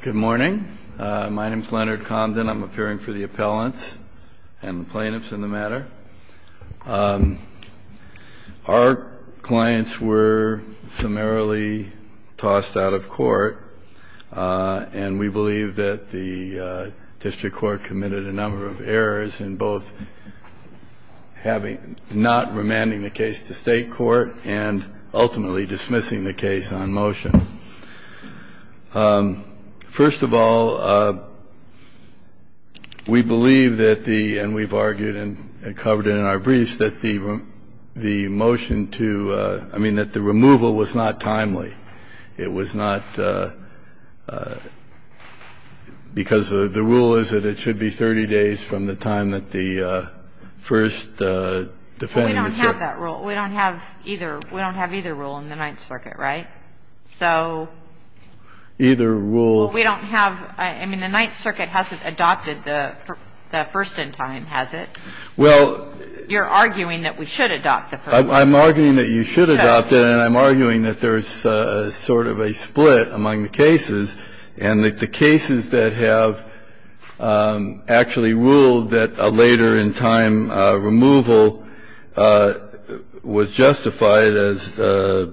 Good morning. My name is Leonard Condon. I'm appearing for the appellants and the plaintiffs in the matter. Our clients were summarily tossed out of court, and we believe that the district court committed a number of errors in both having not remanding the case to state court and ultimately dismissing the case on motion. First of all, we believe that the, and we've argued and covered it in our briefs, that the motion to, I mean, that the removal was not timely. It was not because the rule is that it should be 30 days from the time that the first defendant. We don't have that rule. We don't have either. The rule in the Ninth Circuit, right? So either rule we don't have. I mean, the Ninth Circuit hasn't adopted the first in time, has it? Well, you're arguing that we should adopt the I'm arguing that you should adopt it. And I'm arguing that there is sort of a split among the cases and the cases that have actually ruled that a later in time removal was justified as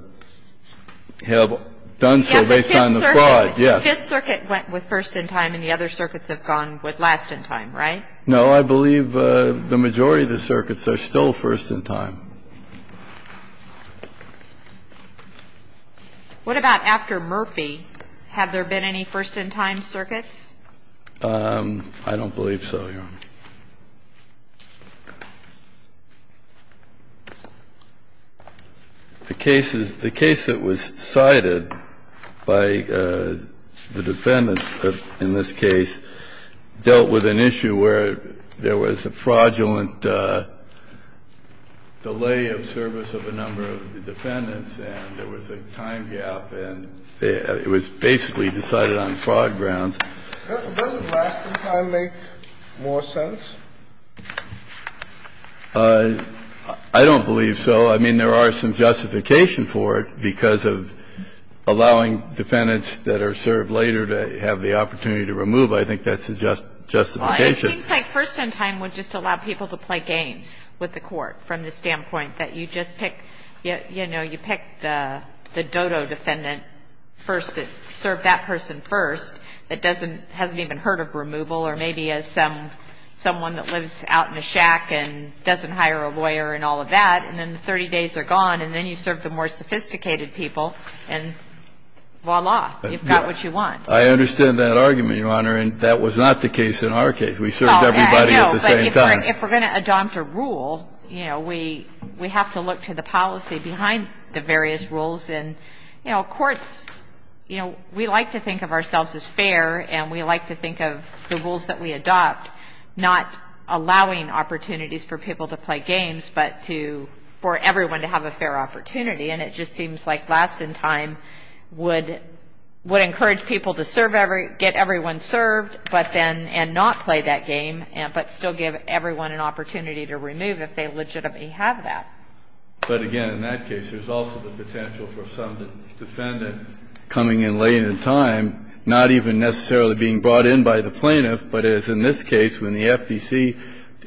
have done so based on the fraud, yes. This circuit went with first in time and the other circuits have gone with last in time, right? No, I believe the majority of the circuits are still first in time. What about after Murphy? Have there been any first in time circuits? I don't believe so, Your Honor. The cases the case that was cited by the defendants in this case dealt with an issue where there was a fraudulent delay of service of a number of the defendants and there was a time gap and it was basically decided on fraud grounds. Doesn't last in time make more sense? I don't believe so. I mean, there are some justification for it because of allowing defendants that are served later to have the opportunity to remove. I think that's a justification. It seems like first in time would just allow people to play games with the Court from the standpoint that you just pick, you know, you pick the dodo defendant first to serve that person first that doesn't, hasn't even heard of removal or maybe is someone that lives out in a shack and doesn't hire a lawyer and all of that and then the 30 days are gone and then you serve the more sophisticated people and voila, you've got what you want. I understand that argument, Your Honor, and that was not the case in our case. We served everybody at the same time. If we're going to adopt a rule, you know, we have to look to the policy behind the various rules and, you know, courts, you know, we like to think of ourselves as fair and we like to think of the rules that we adopt not allowing opportunities for people to play games but for everyone to have a fair opportunity, and it just seems like last in time would encourage people to get everyone served and not play that game but still give everyone an opportunity to remove if they legitimately have that. But again, in that case, there's also the potential for some defendant coming in late in time, not even necessarily being brought in by the plaintiff, but as in this case when the FDC,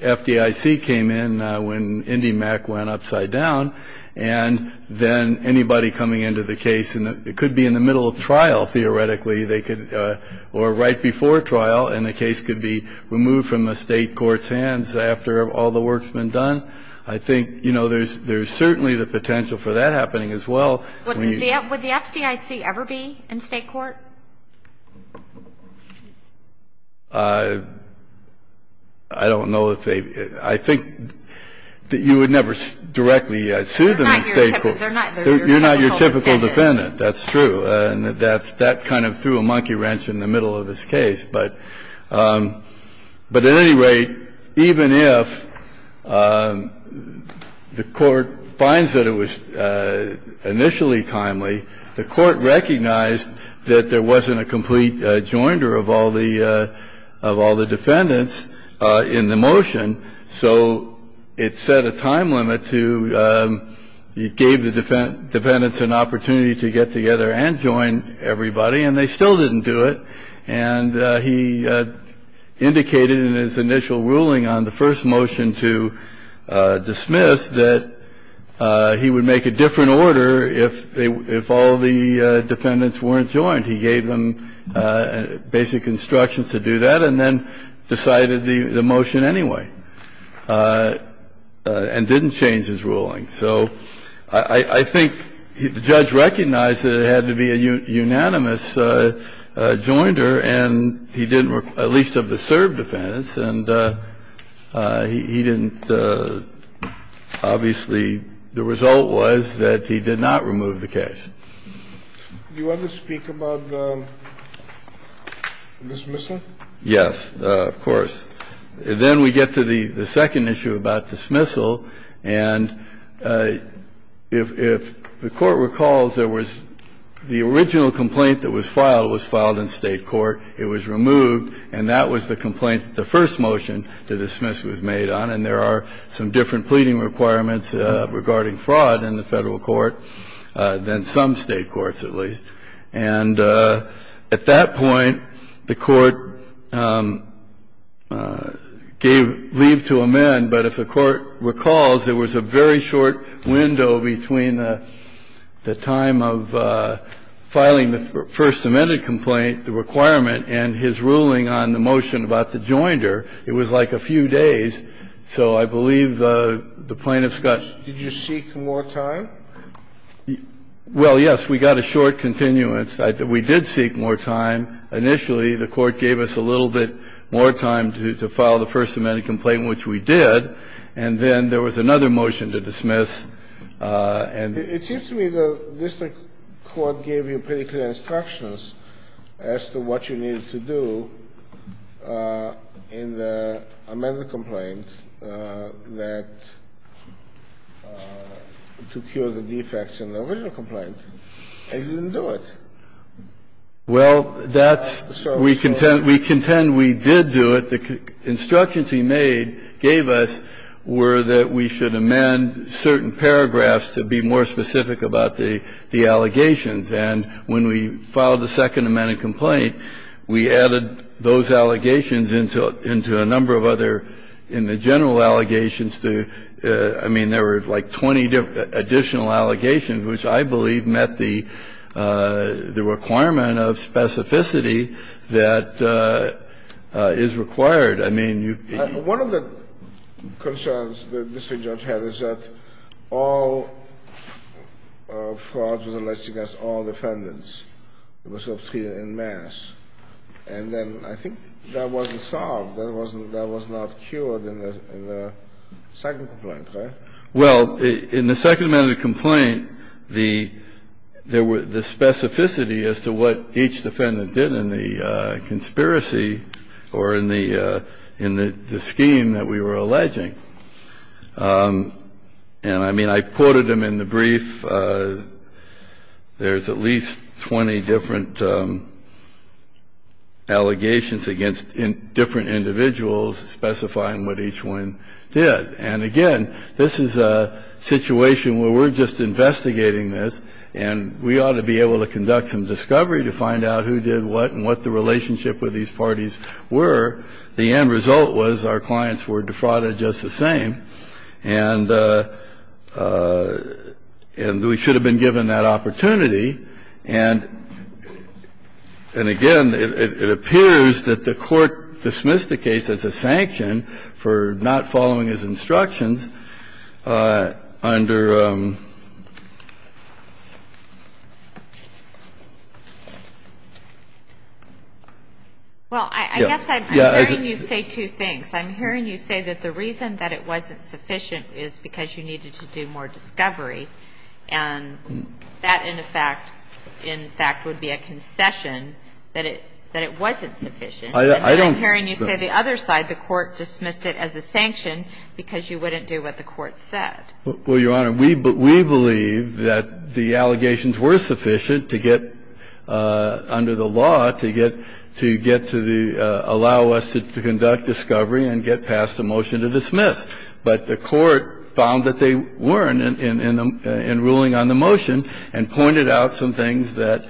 FDIC came in when IndyMac went upside down and then anybody coming into the case, and it could be in the middle of trial theoretically, they could, or right before trial, and the case could be removed from the state court's hands after all the work's been done. I think, you know, there's certainly the potential for that happening as well. Would the FDIC ever be in state court? I don't know if they, I think that you would never directly sue them in state court. You're not your typical defendant, that's true, and that kind of threw a monkey wrench in the middle of this case. But at any rate, even if the court finds that it was initially timely, the court recognized that there wasn't a complete joinder of all the defendants in the motion, so it set a time limit to, it gave the defendants an opportunity to get together and join everybody, and they still didn't do it. And he indicated in his initial ruling on the first motion to dismiss that he would make a different order if they, if all the defendants weren't joined. He gave them basic instructions to do that and then decided the motion anyway, and didn't change his ruling. So I think the judge recognized that it had to be a unanimous joinder, and he didn't, at least of the served defendants, and he didn't, obviously the result was that he did not remove the case. Do you want to speak about the dismissal? Yes, of course. Then we get to the second issue about dismissal. And if the court recalls, there was the original complaint that was filed was filed in state court. It was removed. And that was the complaint that the first motion to dismiss was made on. And there are some different pleading requirements regarding fraud in the Federal Court than some state courts, at least. And at that point, the court gave leave to amend, but if the court recalls, there was a very short window between the time of filing the first amended complaint, the requirement, and his ruling on the motion about the joinder. It was like a few days. So I believe the plaintiff's got to be briefed. The court gave us a little bit more time to file the first amended complaint, which we did, and then there was another motion to dismiss. And it seems to me the district court gave you pretty clear instructions as to what you needed to do in the amended complaint to cure the defects in the original complaint. And you didn't do it. Well, that's the story. We contend we did do it. The instructions he made, gave us, were that we should amend certain paragraphs to be more specific about the allegations. And when we filed the second amended complaint, we added those allegations into a number of other, in the general allegations to, I mean, there were like 20 additional allegations, which I believe met the requirement of specificity that is required. I mean, you can't One of the concerns the district judge had is that all fraud was alleged against all defendants. It was obtruded en masse. And then I think that wasn't solved. That wasn't, that was not cured in the second complaint, right? Well, in the second amended complaint, the specificity as to what each defendant did in the conspiracy or in the scheme that we were alleging, and, I mean, I quoted them in the brief. There's at least 20 different allegations against different individuals specifying what each one did. And, again, this is a situation where we're just investigating this, and we ought to be able to conduct some discovery to find out who did what and what the relationship with these parties were. The end result was our clients were defrauded just the same, and we should have been given that opportunity. And, again, it appears that the Court dismissed the case as a sanction for not following his instructions under the statute. under the statute. Well, I guess I'm hearing you say two things. I'm hearing you say that the reason that it wasn't sufficient is because you needed to do more discovery, and that, in fact, in fact would be a concession, that it wasn't sufficient. And I'm hearing you say the other side, the Court dismissed it as a sanction because you wouldn't do what the Court said. Well, Your Honor, we believe that the allegations were sufficient to get under the law to get to the – allow us to conduct discovery and get past the motion to dismiss. But the Court found that they weren't in ruling on the motion and pointed out some things that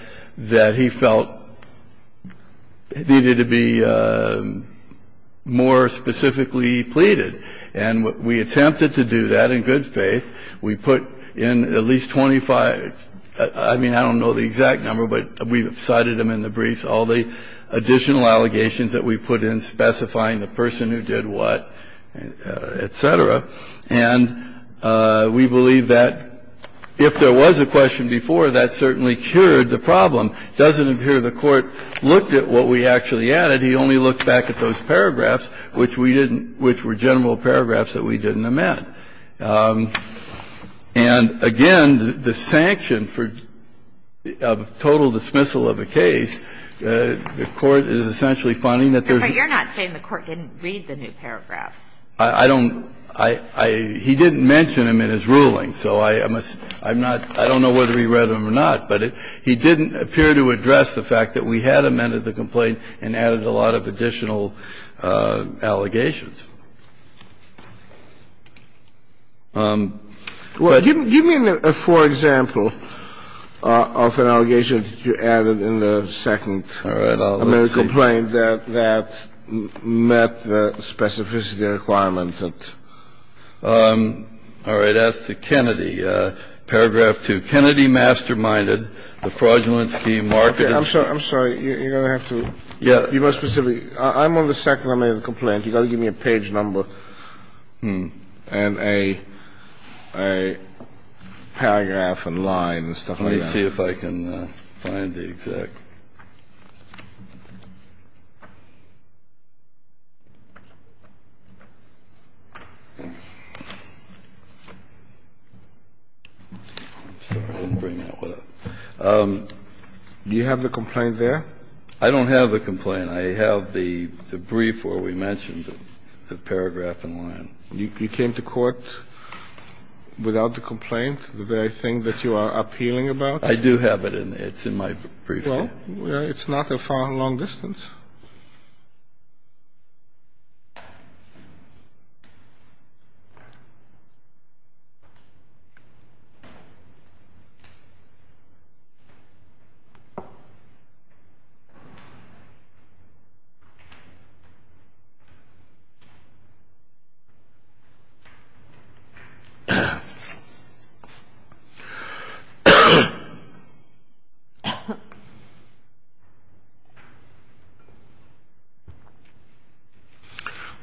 we felt needed to be more specifically pleaded. And we attempted to do that in good faith. We put in at least 25 – I mean, I don't know the exact number, but we cited them in the briefs, all the additional allegations that we put in specifying the person who did what, et cetera. And we believe that if there was a question before, that certainly cured the problem. It doesn't appear the Court looked at what we actually added. He only looked back at those paragraphs, which we didn't – which were general paragraphs that we didn't amend. And, again, the sanction for total dismissal of a case, the Court is essentially finding that there's not – But you're not saying the Court didn't read the new paragraphs. I don't – I – he didn't mention them in his ruling, so I must – I'm not – I I'm not here to address the fact that we had amended the complaint and added a lot of additional allegations. Well, give me a – for example, of an allegation that you added in the second All right. I'll just see. American complaint that – that met the specificity requirements that All right. As to Kennedy, paragraph 2. Kennedy masterminded the fraudulent scheme, marked it – I'm sorry. I'm sorry. You're going to have to – Yeah. You must specifically – I'm on the second American complaint. You've got to give me a page number. And a – a paragraph and line and stuff like that. Let me see if I can find the exact – I'm sorry, I didn't bring that with us. Do you have the complaint there? I don't have a complaint. I have the – the brief where we mentioned the paragraph and line. You came to court without the complaint, the very thing that you are appealing about? I do have it in – it's in my brief. Well, it's not a far and long distance.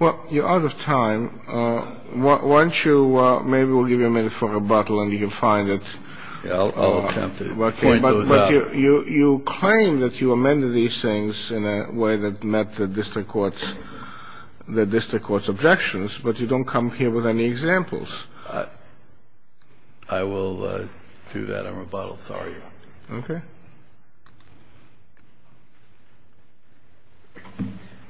Well, you're out of time. Why don't you – maybe we'll give you a minute for rebuttal and you can find it. I'll attempt to point those out. But you claim that you amended these things in a way that met the district court's – the district court's objections, but you don't come here with any examples. I will do that on rebuttal. Sorry. Okay.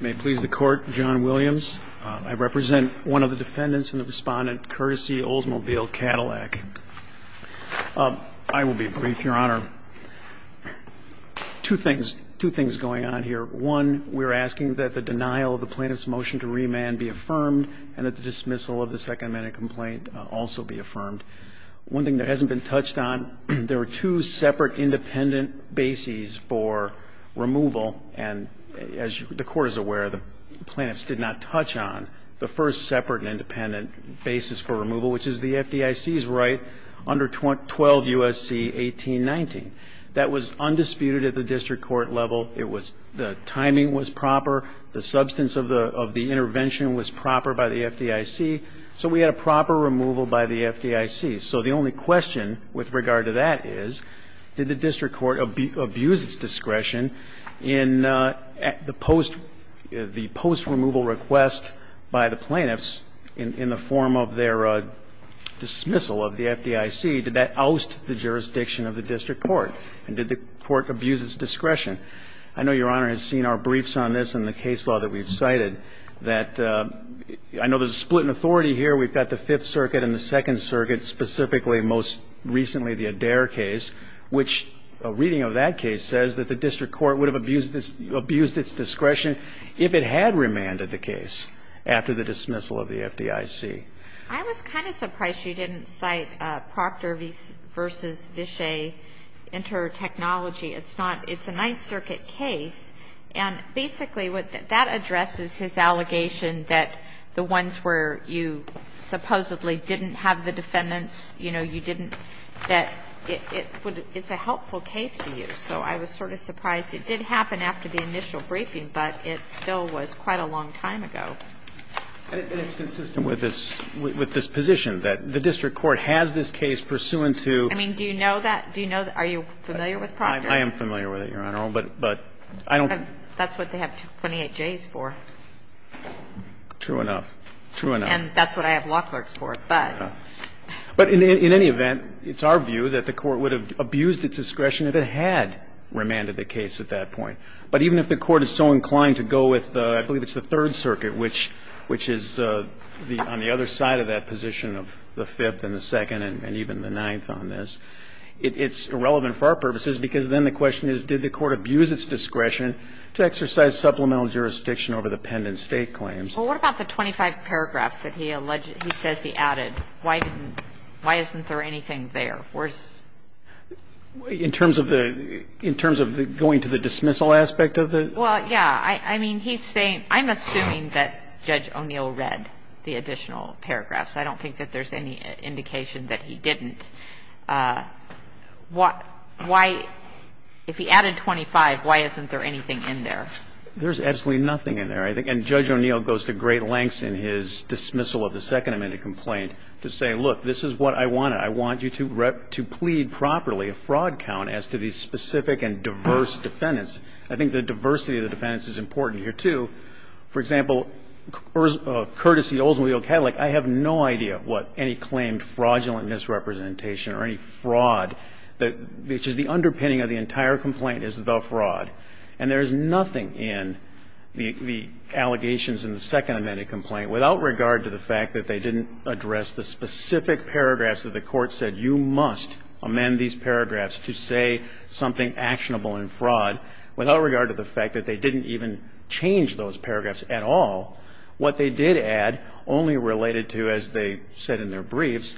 May it please the Court, John Williams. I represent one of the defendants and the respondent, courtesy Oldsmobile Cadillac. I will be brief, Your Honor. Two things – two things going on here. One, we're asking that the denial of the plaintiff's motion to remand be affirmed and that the dismissal of the second-minute complaint also be affirmed. One thing that hasn't been touched on, there were two separate independent bases for removal. And as the Court is aware, the plaintiffs did not touch on the first separate and independent basis for removal, which is the FDIC's right under 12 U.S.C. 1819. That was undisputed at the district court level. It was – the timing was proper. The substance of the intervention was proper by the FDIC. So we had a proper removal by the FDIC. So the only question with regard to that is, did the district court abuse its discretion in the post – the post-removal request by the plaintiffs in the form of their dismissal of the FDIC? Did that oust the jurisdiction of the district court? And did the court abuse its discretion? I know Your Honor has seen our briefs on this in the case law that we've cited, that – I know there's a split in authority here. We've got the Fifth Circuit and the Second Circuit, specifically, most recently, the Adair case, which a reading of that case says that the district court would have abused its discretion if it had remanded the case after the dismissal of the FDIC. I was kind of surprised you didn't cite Proctor v. Vishay intertechnology. It's not – it's a Ninth Circuit case. And basically, what – that addresses his allegation that the ones where you supposedly didn't have the defendants, you know, you didn't – that it would – it's a helpful case to use. So I was sort of surprised. It did happen after the initial briefing, but it still was quite a long time ago. And it's consistent with this – with this position, that the district court has this case pursuant to – I mean, do you know that? Do you know – are you familiar with Proctor? I am familiar with it, Your Honor. But I don't – That's what they have 28 Js for. True enough. True enough. And that's what I have lock clerks for. But – But in any event, it's our view that the court would have abused its discretion if it had remanded the case at that point. But even if the court is so inclined to go with – I believe it's the Third Circuit, which is the – on the other side of that position of the Fifth and the Second and even the Ninth on this, it's irrelevant for our purposes, because then the question is, did the court abuse its discretion to exercise supplemental jurisdiction over the pen and state claims? Well, what about the 25 paragraphs that he alleged – he says he added? Why didn't – why isn't there anything there? Where's – In terms of the – in terms of going to the dismissal aspect of the – Well, yeah. I mean, he's saying – I'm assuming that Judge O'Neill read the additional paragraphs. I don't think that there's any indication that he didn't. Why – if he added 25, why isn't there anything in there? There's absolutely nothing in there. I think – and Judge O'Neill goes to great lengths in his dismissal of the Second Amendment complaint to say, look, this is what I wanted. I want you to plead properly a fraud count as to the specific and diverse defendants. I think the diversity of the defendants is important here, too. For example, courtesy to Oldsmobile Cadillac, I have no idea what any claimed fraudulent misrepresentation or any fraud that – which is the underpinning of the entire complaint is the fraud. And there's nothing in the allegations in the Second Amendment complaint, without regard to the fact that they didn't address the specific paragraphs that the Court said you must amend these paragraphs to say something actionable in fraud, without regard to the fact that they didn't even change those paragraphs at all. What they did add, only related to, as they said in their briefs,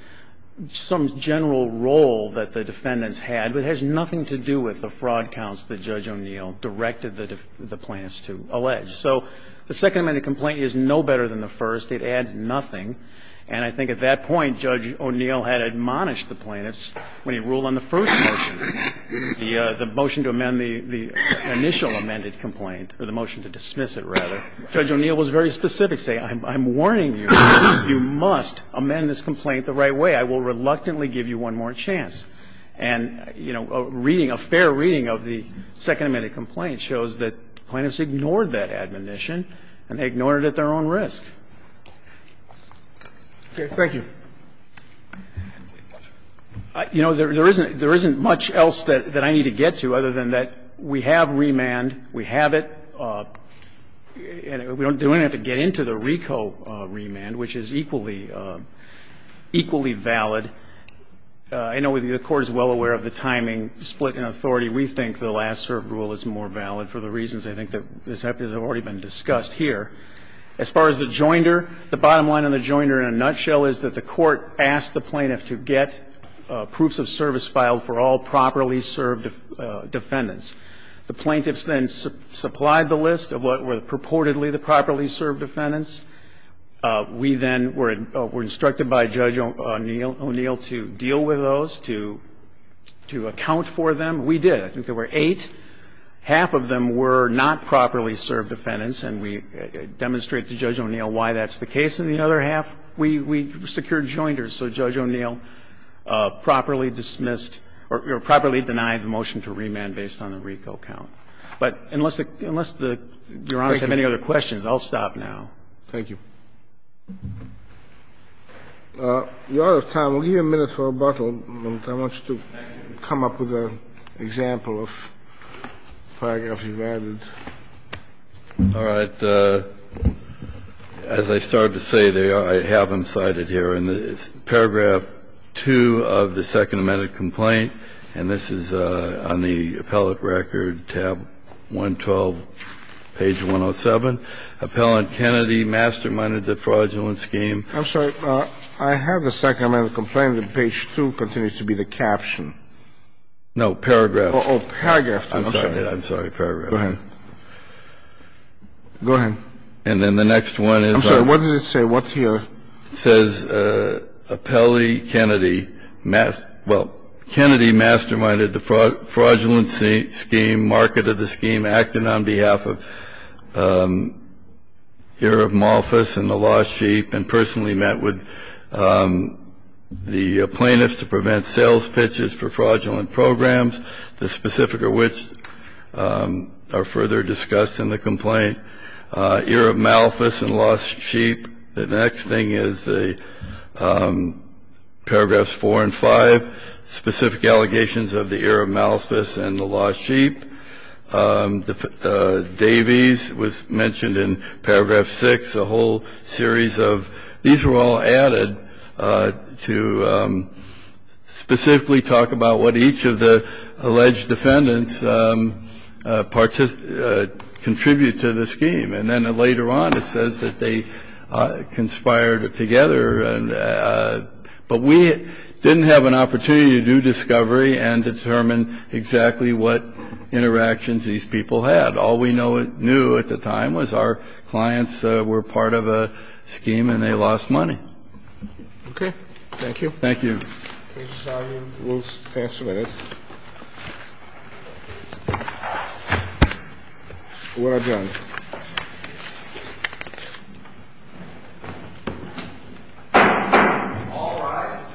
some general role that the defendants had, but it has nothing to do with the fraud counts that Judge O'Neill directed the plaintiffs to allege. So the Second Amendment complaint is no better than the first. It adds nothing. And I think at that point, Judge O'Neill had admonished the plaintiffs when he ruled on the first motion, the motion to amend the initial amended complaint – or the motion to dismiss it, rather. Judge O'Neill was very specific, saying, I'm warning you, you must amend this complaint the right way. I will reluctantly give you one more chance. And, you know, a reading – a fair reading of the Second Amendment complaint shows that plaintiffs ignored that admonition, and they ignored it at their own risk. Okay. Thank you. You know, there isn't – there isn't much else that I need to get to, other than that we have remand, we have it. And we don't have to get into the RICO remand, which is equally – equally valid. I know the Court is well aware of the timing split in authority. We think the last served rule is more valid for the reasons I think that have already been discussed here. As far as the joinder, the bottom line on the joinder in a nutshell is that the Court asked the plaintiff to get proofs of service filed for all properly served defendants. The plaintiffs then supplied the list of what were purportedly the properly served defendants. We then were instructed by Judge O'Neill to deal with those, to account for them. We did. I think there were eight. Half of them were not properly served defendants, and we demonstrated to Judge O'Neill why that's the case. And the other half, we secured joinders. So Judge O'Neill properly dismissed – or properly denied the motion to remand based on the RICO count. But unless the – unless the Your Honors have any other questions, I'll stop now. Thank you. We are out of time. We'll give you a minute for rebuttal. All right. As I started to say, I have them cited here. In paragraph 2 of the Second Amended Complaint, and this is on the appellate record, tab 112, page 107, Appellant Kennedy masterminded the fraudulent scheme. I'm sorry. I have the Second Amended Complaint, and page 2 continues to be the caption. No, paragraph. Oh, paragraph. I'm sorry. I'm sorry. Paragraph. Go ahead. Go ahead. And then the next one is – I'm sorry. What does it say? What's here? It says, Appellate Kennedy – well, Kennedy masterminded the fraudulent scheme, marketed the scheme, acted on behalf of – here of Malthus and the lost sheep, and personally met with the plaintiffs to prevent sales pitches for fraudulent programs, the specific of which are further discussed in the complaint. Ear of Malthus and lost sheep. The next thing is the paragraphs 4 and 5, specific allegations of the ear of Malthus and the lost sheep. Davies was mentioned in paragraph 6. A whole series of – these were all added to specifically talk about what each of the alleged defendants contribute to the scheme. And then later on it says that they conspired together. But we didn't have an opportunity to do discovery and determine exactly what interactions these people had. All we knew at the time was our clients were part of a scheme and they lost money. Okay. Thank you. Thank you. Case study will stand for a minute. We're adjourned. All rise.